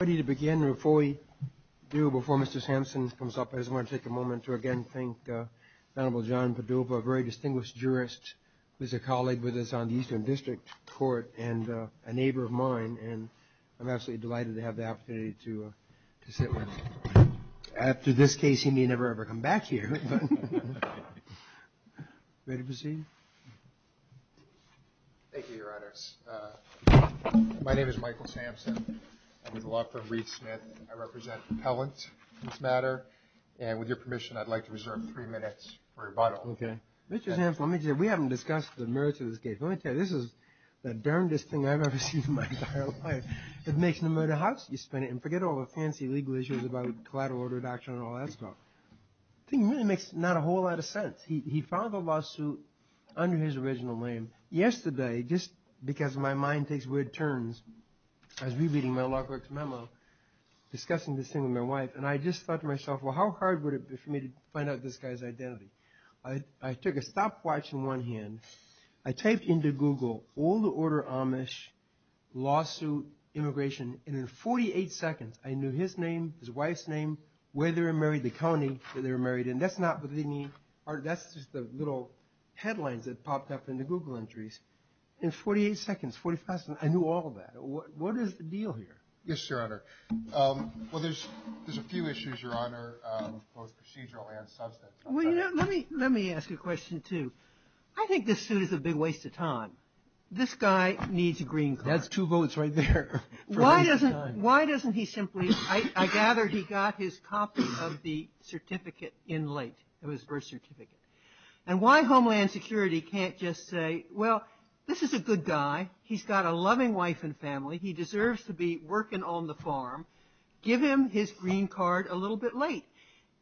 Ready to begin before we do before Mr. Sampson comes up. I just want to take a moment to again thank uh Honorable John Padova, a very distinguished jurist who's a colleague with us on the Eastern District Court and a neighbor of mine and I'm absolutely delighted to have the opportunity to to sit with him. After this case he may never ever come back here. Ready to proceed? Thank you, Your Honor. My name is Michael Sampson. I'm with the law firm Reed Smith. I represent repellent in this matter and with your permission I'd like to reserve three minutes for rebuttal. Okay. Mr. Sampson, let me tell you we haven't discussed the merits of this case. Let me tell you this is the darndest thing I've ever seen in my entire life. It makes no matter how much you spend it and forget all the fancy legal issues about collateral order reduction and all that stuff. I think it really makes not a whole lot of sense. He found the lawsuit under his original name yesterday just because my mind takes weird turns. I was rereading my law clerk's memo discussing this thing with my wife and I just thought to myself well how hard would it be for me to find out this guy's identity. I took a stopwatch in one hand. I typed into Google all the order Amish lawsuit immigration and in 48 seconds I knew his name, his wife's name, where they were married, the county that they were married in. That's not what they need. That's just the little headlines that popped up in the Google entries. In 48 seconds, 45 seconds, I knew all of that. What is the deal here? Yes, Your Honor. Well, there's a few issues, Your Honor, both procedural and substantive. Let me ask you a question too. I think this suit is a big waste of time. This guy needs a green card. That's two votes right there. Why doesn't he simply, I gather he got his copy of the certificate in late. It was birth certificate. And why Homeland Security can't just say well this is a good guy. He's got a loving wife and family. He deserves to be working on the farm. Give him his green card a little bit late.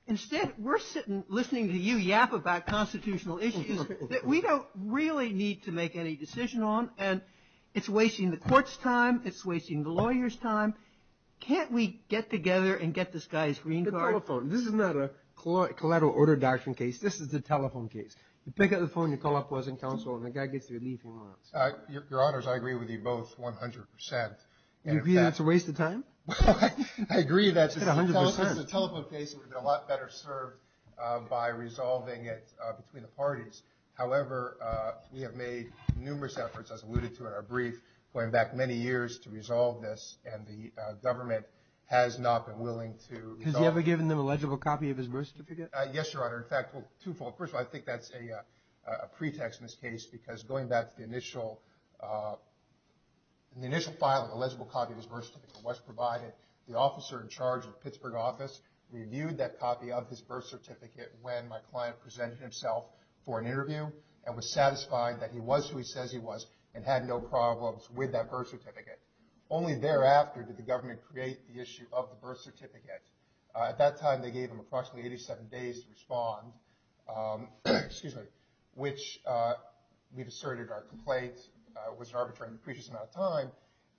Instead, we're sitting listening to you yap about constitutional issues that we don't really need to make any decision on and it's wasting the court's time. It's wasting the lawyer's time. Can't we get together and get this guy's green card? The telephone. This is not a collateral order doctrine case. This is a telephone case. You pick up the phone, you call up Laws and Counsel, and the guy gets the relief he wants. Your Honors, I agree with you both 100%. You agree that it's a waste of time? I agree that it's a telephone case that would have been a lot better served by resolving it between the parties. However, we have made numerous efforts, as the government has not been willing to resolve it. Has he ever given them a legible copy of his birth certificate? Yes, Your Honor. In fact, twofold. First of all, I think that's a pretext in this case because going back to the initial file of the legible copy of his birth certificate was provided. The officer in charge of Pittsburgh office reviewed that copy of his birth certificate when my client presented himself for an interview and was satisfied that he was who he says he was and had no problems with that birth certificate. Only thereafter did the government create the issue of the birth certificate. At that time, they gave him approximately 87 days to respond, which we've asserted our complaint was an arbitrary and depreciating amount of time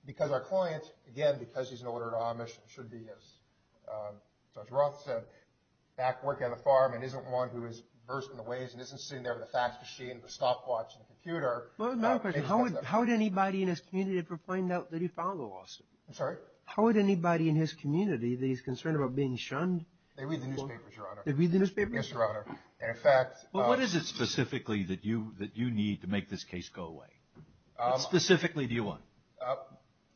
because our client, again, because he's an older Amish and should be, as Judge Roth said, back working on the farm and isn't one who is versed in the ways and isn't sitting there with a fax machine and a stopwatch and a computer. How would anybody in his community ever find out that he filed a lawsuit? I'm sorry? How would anybody in his community, that he's concerned about being shunned? They read the newspapers, Your Honor. They read the newspapers? Yes, Your Honor. And in fact... Well, what is it specifically that you need to make this case go away? What specifically do you want?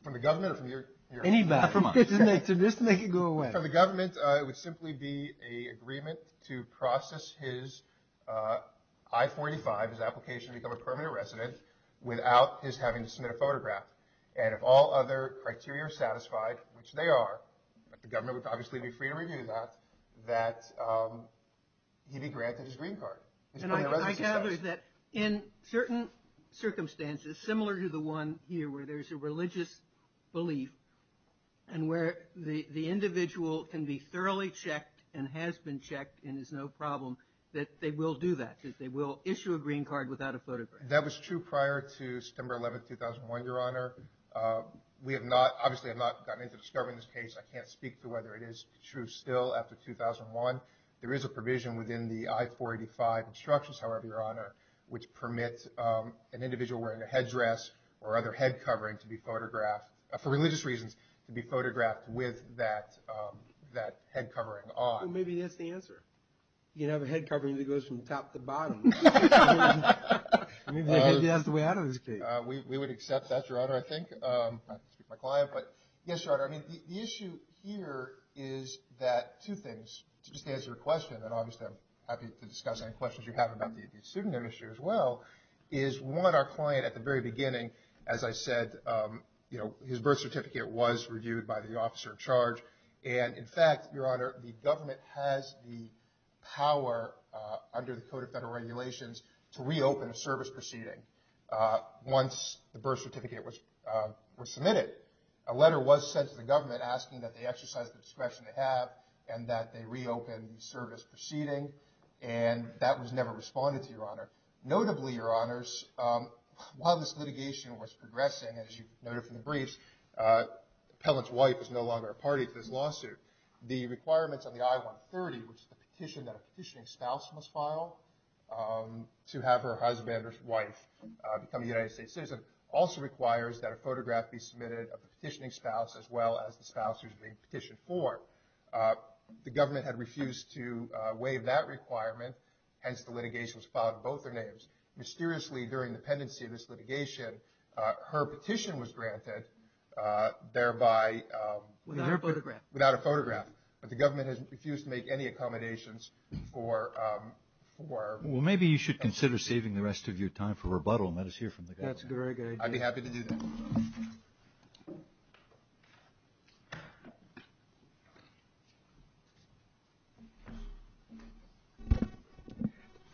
From the government or from your... Anybody. Just to make it go away. From the government, it would simply be an agreement to process his I-45, his application to become a permanent resident, without his having to submit a photograph. And if all other criteria are satisfied, which they are, the government would obviously be free to review that, that he be granted his green card. And I gather that in certain circumstances, similar to the one here where there's a religious belief and where the individual can be thoroughly checked and has been checked and is no problem, that they will do that, that they will issue a green card without a photograph. That was true prior to September 11, 2001, Your Honor. We have not, obviously have not gotten into discovering this case. I can't speak to whether it is true still after 2001. There is a provision within the I-485 instructions, however, Your Honor, which permits an individual wearing a headdress or other head covering to be photographed, for religious reasons, to be photographed with that head covering on. Well, maybe that's the answer. You can have a head covering that goes from top to bottom. Maybe that's the way out of this case. We would accept that, Your Honor, I think. I can't speak to my client, but yes, Your Honor. I mean, the issue here is that two things, to just answer your question, and obviously I'm happy to discuss any questions you have about the student industry as well, is one, our client at the very beginning, as I said, you know, his birth certificate was reviewed by the officer in charge, and in fact, Your Honor, the government has the power under the Code of Federal Regulations to reopen a service proceeding once the birth certificate was submitted. A letter was sent to the government asking that they exercise the discretion they have and that they reopen the While this litigation was progressing, as you noted from the briefs, the appellant's wife is no longer a party to this lawsuit. The requirements on the I-130, which is the petition that a petitioning spouse must file to have her husband or wife become a United States citizen, also requires that a photograph be submitted of the petitioning spouse as well as the spouse who's being petitioned for. The government had refused to waive that requirement, hence the litigation was filed in both their names. Mysteriously, during the pendency of this litigation, her petition was granted, thereby, without a photograph, but the government has refused to make any accommodations for Well, maybe you should consider saving the rest of your time for rebuttal. Let us hear from the government. That's a very good idea. I'd be happy to do that.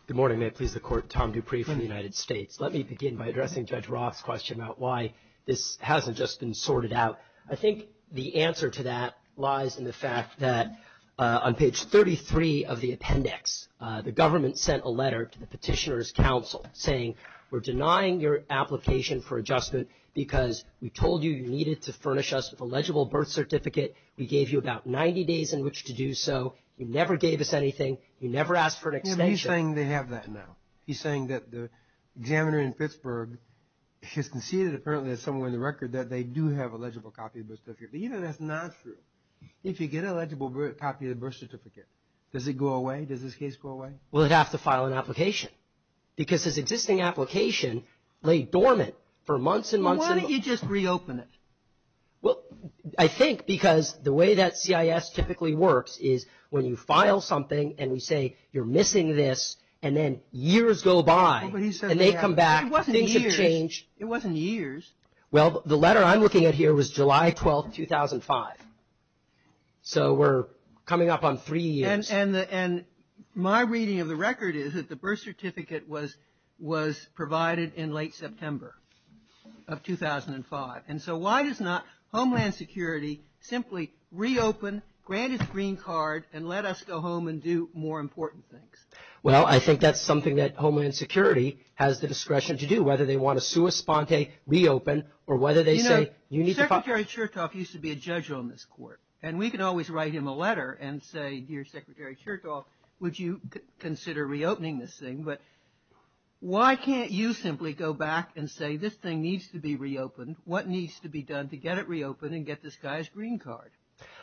Good morning. May it please the Court. Tom Dupree from the United States. Let me begin by addressing Judge Roth's question about why this hasn't just been sorted out. I think the answer to that lies in the fact that on page 33 of the appendix, the government sent a letter to the Petitioner's Council saying, We're denying your application for adjustment because we told you you needed to furnish us with a legible birth certificate. We gave you about 90 days in which to do so. You never gave us anything. You never asked for an extension. He's saying they have that now. He's saying that the examiner in Pittsburgh has conceded, apparently, as someone in the record, that they do have a legible copy of the birth certificate. But you know that's not true. If you get a legible copy of the birth certificate, does it go away? Does this case go away? Well, it'd have to file an application because his existing application lay dormant for months and months. Why don't you just reopen it? Well, I think because the way that CIS typically works is when you file something and we say you're missing this and then years go by and they come back. It wasn't years. Things have changed. It wasn't years. Well, the letter I'm looking at here was July 12, 2005. So we're coming up on three years. And my reading of the record is that the birth certificate was provided in late September of 2005. And so why does not Homeland Security simply reopen, grant its green card, and let us go home and do more important things? Well, I think that's something that Homeland Security has the discretion to do, whether they want to sua sponte, reopen, or whether they say you need to file. Secretary Chertoff used to be a judge on this court. And we could always write him a letter and say, dear Secretary Chertoff, would you consider reopening this thing? But why can't you simply go back and say this thing needs to be reopened? What needs to be done to get it reopened and get this guy's green card?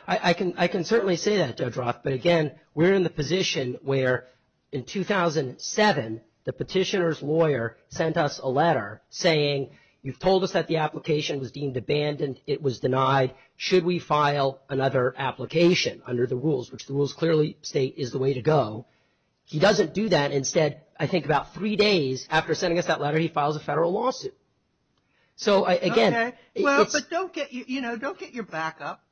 I can certainly say that, Judge Roth. But, again, we're in the position where in 2007 the petitioner's lawyer sent us a letter saying you've told us that the application was deemed abandoned. It was denied. Should we file another application under the rules, which the rules clearly state is the way to go? He doesn't do that. Instead, I think about three days after sending us that letter, he files a federal lawsuit. So, again. Okay. Well, but don't get, you know, don't get your back up.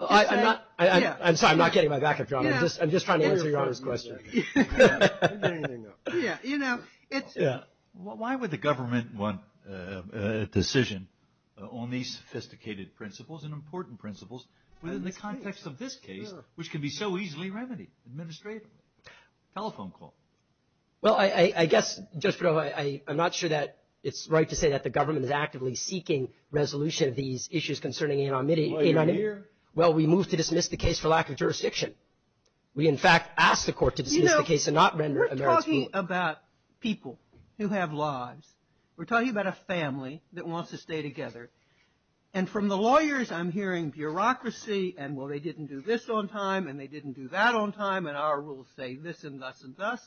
I'm sorry. I'm not getting my back up, John. I'm just trying to answer Your Honor's question. Yeah. You know, it's. Yeah. Why would the government want a decision on these sophisticated principles and important principles within the context of this case, which can be so easily remedied administratively? Telephone call. Well, I guess, Judge Perdova, I'm not sure that it's right to say that the government is actively seeking resolution of these issues concerning anonymity. Well, you're here. Well, we move to dismiss the case for lack of jurisdiction. We, in fact, ask the court to dismiss the case and not render a merits rule. You know, we're talking about people who have lives. We're talking about a family that wants to stay together. And from the lawyers, I'm hearing bureaucracy and, well, they didn't do this on time and they didn't do that on time, and our rules say this and thus and thus.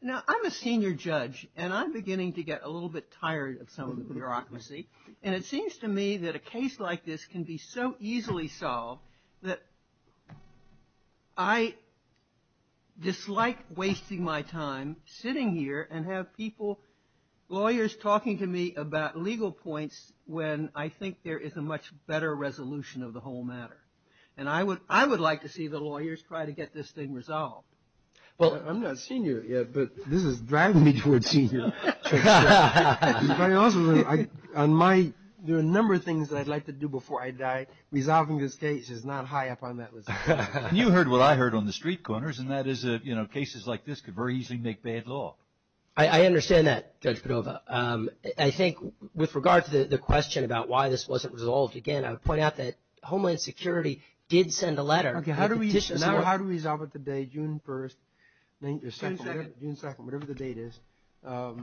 Now, I'm a senior judge, and I'm beginning to get a little bit tired of some of the bureaucracy. And it seems to me that a case like this can be so easily solved that I dislike wasting my time sitting here and have people, lawyers, talking to me about legal points when I think there is a much better resolution of the whole matter. And I would like to see the lawyers try to get this thing resolved. Well, I'm not senior yet, but this is driving me toward senior. It's very awesome. There are a number of things that I'd like to do before I die. Resolving this case is not high up on that list. You heard what I heard on the street corners, and that is, you know, cases like this could very easily make bad law. I understand that, Judge Padova. I think with regard to the question about why this wasn't resolved, again, I would point out that Homeland Security did send a letter. Okay. Now, how do we resolve it today, June 1st? June 2nd, whatever the date is. How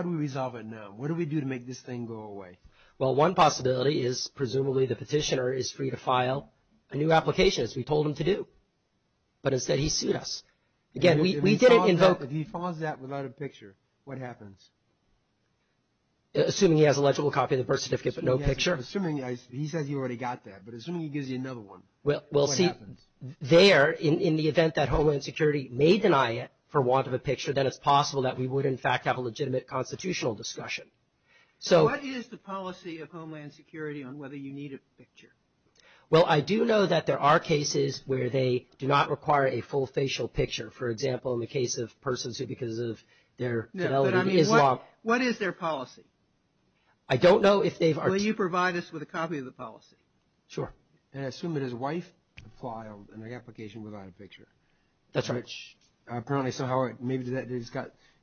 do we resolve it now? What do we do to make this thing go away? Well, one possibility is presumably the petitioner is free to file a new application, as we told him to do. But instead, he sued us. Again, we didn't invoke. If he files that without a picture, what happens? Assuming he has a legible copy of the birth certificate, but no picture. He says he already got that, but assuming he gives you another one, what happens? There, in the event that Homeland Security may deny it for want of a picture, then it's possible that we would, in fact, have a legitimate constitutional discussion. So what is the policy of Homeland Security on whether you need a picture? Well, I do know that there are cases where they do not require a full facial picture. For example, in the case of persons who, because of their fidelity to Islam. No, but I mean, what is their policy? I don't know if they are. Will you provide us with a copy of the policy? Sure. And I assume that his wife filed an application without a picture. That's right. Apparently, so how, maybe,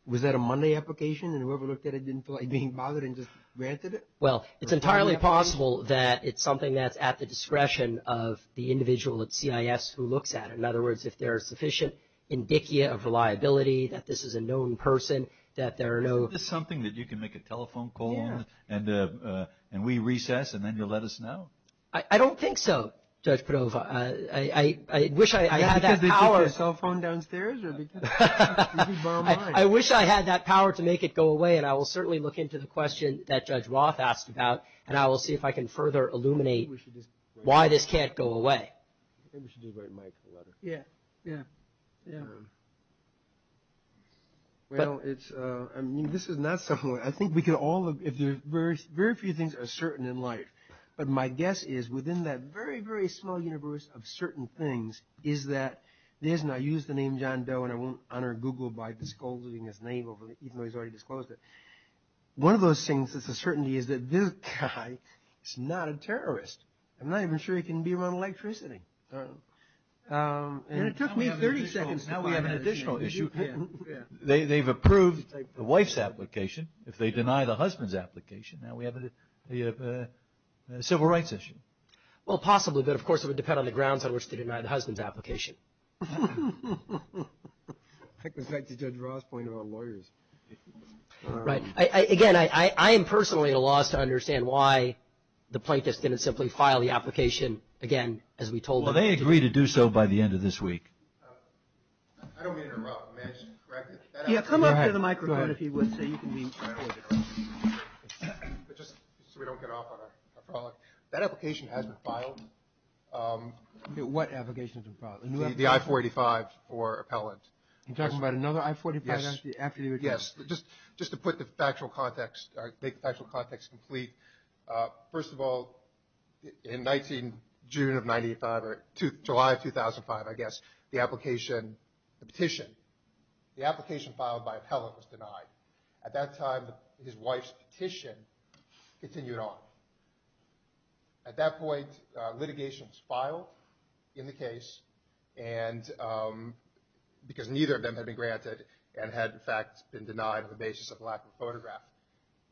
was that a Monday application, and whoever looked at it didn't feel like being bothered and just granted it? Well, it's entirely possible that it's something that's at the discretion of the individual at CIS who looks at it. In other words, if there is sufficient indicia of reliability, that this is a known person, that there are no... Is this something that you can make a telephone call and we recess and then you'll let us know? I don't think so, Judge Padova. I wish I had that power. Is it because they took your cell phone downstairs? I wish I had that power to make it go away, and I will certainly look into the question that Judge Roth asked about, and I will see if I can further illuminate why this can't go away. Maybe we should just write Mike a letter. Yeah, yeah, yeah. Well, it's, I mean, this is not something... My guess is within that very, very small universe of certain things is that there's, and I used the name John Doe, and I won't honor Google by disclosing his name, even though he's already disclosed it. One of those things that's a certainty is that this guy is not a terrorist. I'm not even sure he can be around electricity. And it took me 30 seconds. Now we have an additional issue. They've approved the wife's application. If they deny the husband's application, now we have a civil rights issue. Well, possibly, but, of course, it would depend on the grounds on which they deny the husband's application. I can cite the Judge Roth's point about lawyers. Right. Again, I am personally at a loss to understand why the plaintiffs didn't simply file the application, again, as we told them. Well, they agreed to do so by the end of this week. I don't mean to interrupt. May I just correct it? Yeah, come up to the microphone, if you would, so you can be heard. Just so we don't get off on a frolic, that application has been filed. What application has been filed? The I-485 for appellant. You're talking about another I-485 after the original? Yes. Just to put the factual context, make the factual context complete, first of all, in 19 June of 95, or July of 2005, I guess, the application, the petition, the application filed by appellant was denied. At that time, his wife's petition continued on. At that point, litigation was filed in the case because neither of them had been granted and had, in fact, been denied on the basis of lack of photograph.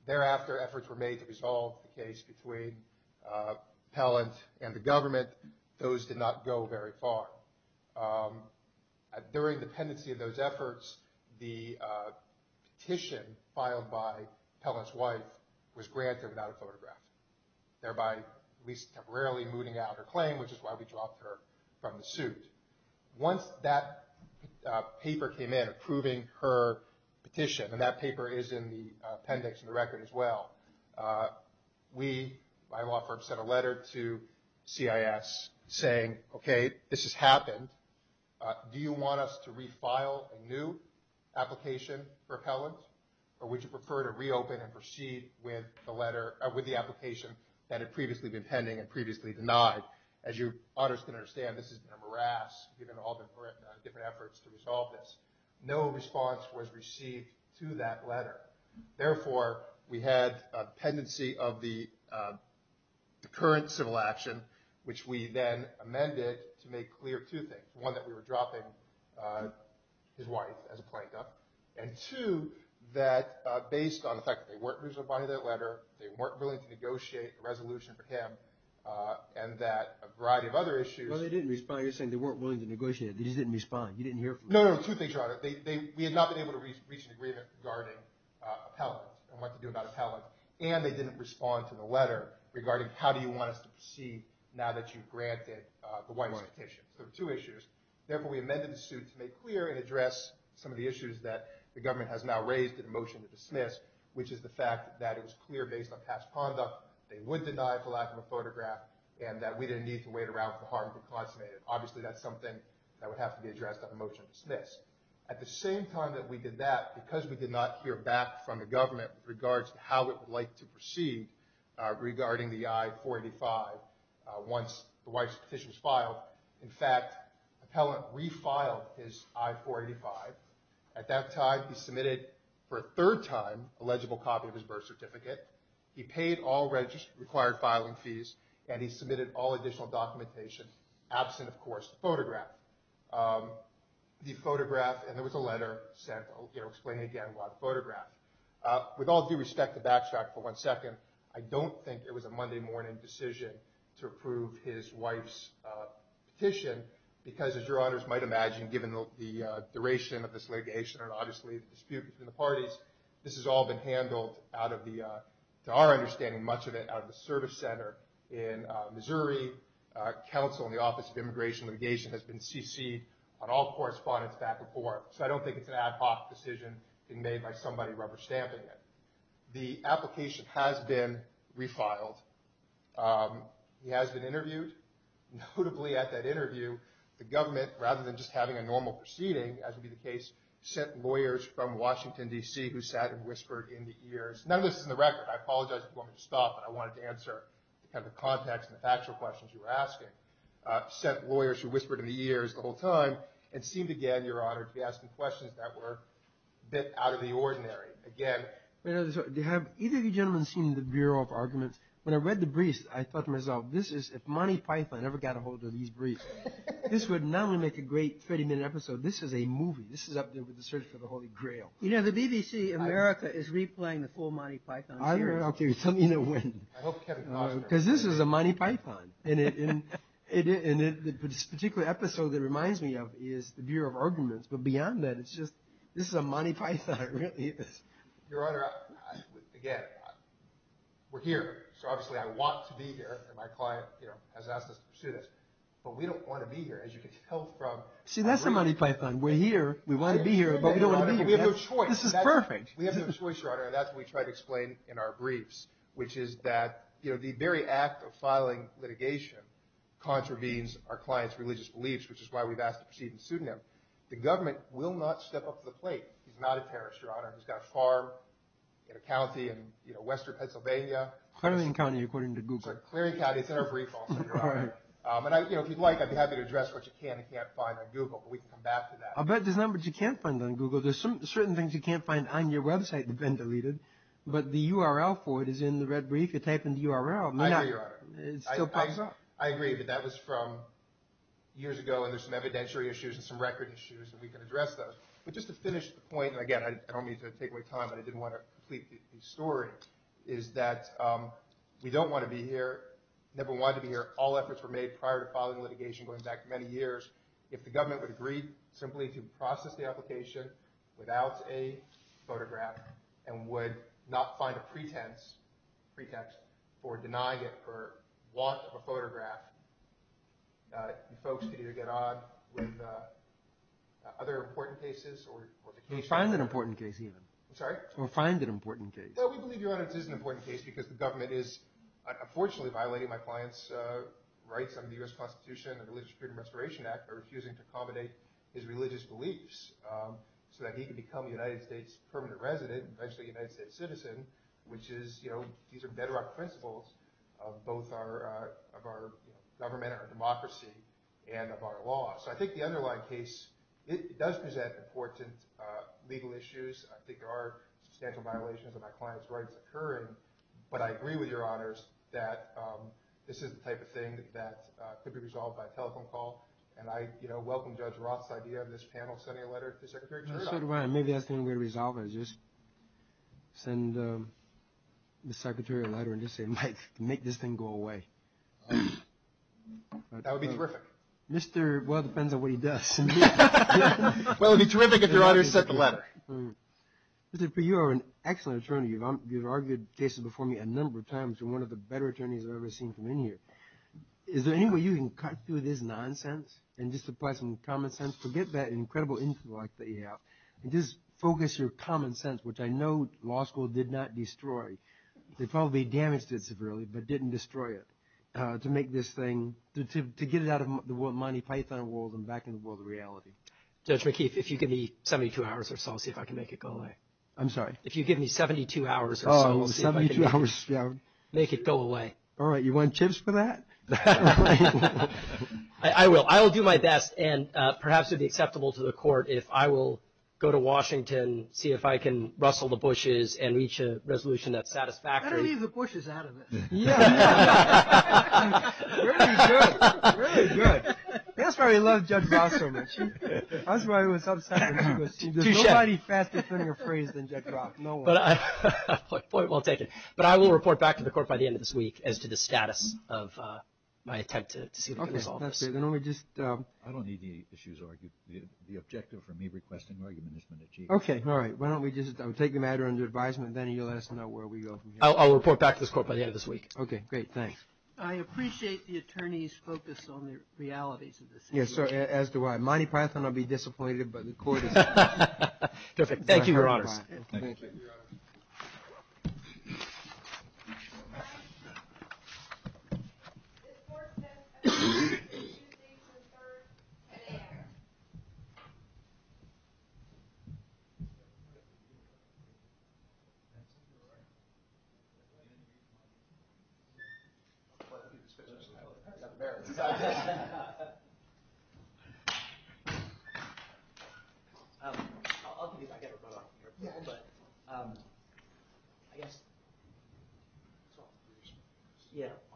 Thereafter, efforts were made to resolve the case between appellant and the government. Those did not go very far. During the pendency of those efforts, the petition filed by appellant's wife was granted without a photograph, thereby at least temporarily mooting out her claim, which is why we dropped her from the suit. Once that paper came in approving her petition, and that paper is in the appendix in the record as well, we, my law firm, sent a letter to CIS saying, okay, this has happened. Do you want us to refile a new application for appellant, or would you prefer to reopen and proceed with the application that had previously been pending and previously denied? As you ought to understand, this has been a morass given all the different efforts to resolve this. No response was received to that letter. Therefore, we had a pendency of the current civil action, which we then amended to make clear two things. One, that we were dropping his wife as a plaintiff. And two, that based on the fact that they weren't reasonably buying that letter, they weren't willing to negotiate a resolution for him, and that a variety of other issues. Well, they didn't respond. You're saying they weren't willing to negotiate. They just didn't respond. You didn't hear from them. No, no, two things, Your Honor. We had not been able to reach an agreement regarding appellant and what to do about appellant, and they didn't respond to the letter regarding how do you want us to proceed now that you've granted the wife's petition. So there were two issues. Therefore, we amended the suit to make clear and address some of the issues that the government has now raised and a motion to dismiss, which is the fact that it was clear based on past conduct they would deny for lack of a photograph and that we didn't need to wait around for harm to be consummated. Obviously, that's something that would have to be addressed on a motion to dismiss. At the same time that we did that, because we did not hear back from the government with regards to how it would like to proceed regarding the I-485 once the wife's petition was filed, in fact, appellant refiled his I-485. At that time, he submitted for a third time a legible copy of his birth certificate. He paid all required filing fees, and he submitted all additional documentation, absent, of course, the photograph. And there was a letter sent explaining again about the photograph. With all due respect, to backtrack for one second, I don't think it was a Monday morning decision to approve his wife's petition, because as your honors might imagine, given the duration of this litigation and obviously the dispute between the parties, this has all been handled, to our understanding, much of it out of the service center in Missouri. The Missouri Council and the Office of Immigration and Litigation has been CC'd on all correspondence back and forth, so I don't think it's an ad hoc decision being made by somebody rubber stamping it. The application has been refiled. He has been interviewed. Notably at that interview, the government, rather than just having a normal proceeding, as would be the case, sent lawyers from Washington, D.C., who sat and whispered in the ears, none of this is in the record, I apologize if you want me to stop, but I wanted to answer the context and the factual questions you were asking, sent lawyers who whispered in the ears the whole time, and seemed again, your honor, to be asking questions that were a bit out of the ordinary. Again... Have either of you gentlemen seen the Bureau of Arguments? When I read the briefs, I thought to myself, if Monty Python ever got a hold of these briefs, this would not only make a great 30-minute episode, this is a movie. This is up there with the search for the Holy Grail. You know, the BBC America is replaying the full Monty Python series. Tell me when. Because this is a Monty Python. And this particular episode that it reminds me of is the Bureau of Arguments. But beyond that, this is a Monty Python, really. Your honor, again, we're here. So obviously I want to be here, and my client has asked us to pursue this. But we don't want to be here, as you can tell from... See, that's the Monty Python. We're here, we want to be here, but we don't want to be here. We have no choice. This is perfect. We have no choice, your honor, and that's what we try to explain in our briefs, which is that the very act of filing litigation contravenes our client's religious beliefs, which is why we've asked to proceed and sue them. The government will not step up to the plate. He's not a terrorist, your honor. He's got a farm in a county in western Pennsylvania. Clearing County, according to Google. Clearing County. It's in our brief also, your honor. And if you'd like, I'd be happy to address what you can and can't find on Google, but we can come back to that. I'll bet there's numbers you can't find on Google. There's certain things you can't find on your website that have been deleted, but the URL for it is in the red brief. You type in the URL. I agree, your honor. It still pops up. I agree, but that was from years ago, and there's some evidentiary issues and some record issues, and we can address those. But just to finish the point, and again, I don't mean to take away time, but I didn't want to complete the story, is that we don't want to be here, never wanted to be here. All efforts were made prior to filing litigation going back many years. If the government would agree simply to process the application without a photograph and would not find a pretext for denying it for want of a photograph, you folks could either get on with other important cases. We find an important case even. I'm sorry? We find an important case. We believe, your honor, it is an important case because the government is, unfortunately, violating my client's rights under the U.S. Constitution and the Religious Freedom Restoration Act by refusing to accommodate his religious beliefs so that he could become a United States permanent resident, eventually a United States citizen, which is, you know, these are bedrock principles of both our government and our democracy and of our law. So I think the underlying case does present important legal issues. I think there are substantial violations of my client's rights occurring, but I agree with your honors that this is the type of thing that could be resolved by telephone call, and I, you know, welcome Judge Roth's idea of this panel sending a letter to Secretary Chertoff. Maybe that's the only way to resolve it is just send the secretary a letter and just say, Mike, make this thing go away. That would be terrific. Well, it depends on what he does. Well, it would be terrific if your honor sent the letter. Mr. P, you are an excellent attorney. You've argued cases before me a number of times. You're one of the better attorneys I've ever seen from in here. Is there any way you can cut through this nonsense and just apply some common sense? Forget that incredible intellect that you have and just focus your common sense, which I know law school did not destroy. They probably damaged it severely but didn't destroy it to make this thing, to get it out of the Monty Python world and back into the world of reality. Judge McKeith, if you give me 72 hours or so, I'll see if I can make it go away. I'm sorry? If you give me 72 hours or so, we'll see if I can make it go away. All right. You want chips for that? I will. I will do my best. And perhaps it would be acceptable to the court if I will go to Washington, see if I can rustle the bushes and reach a resolution that's satisfactory. Better leave the bushes out of it. Yeah. Really good. That's why we love Judge Voss so much. That's why we're so excited. There's nobody faster than your phrase than Judge Voss. No one. Point well taken. But I will report back to the court by the end of this week as to the status of my attempt to see if I can resolve this. Okay. That's good. Then why don't we just – I don't need the issues argued. The objective for me requesting argument is from the Chief. Okay. All right. Why don't we just take the matter under advisement and then you'll let us know where we go from here. I'll report back to this court by the end of this week. Okay. Great. Thanks. I appreciate the Attorney's focus on the realities of this issue. Yes, sir. As do I. Monty Python will be disappointed but the court is – Perfect. Thank you, Your Honors. Thank you, Your Honors. I guess, so we should hear all.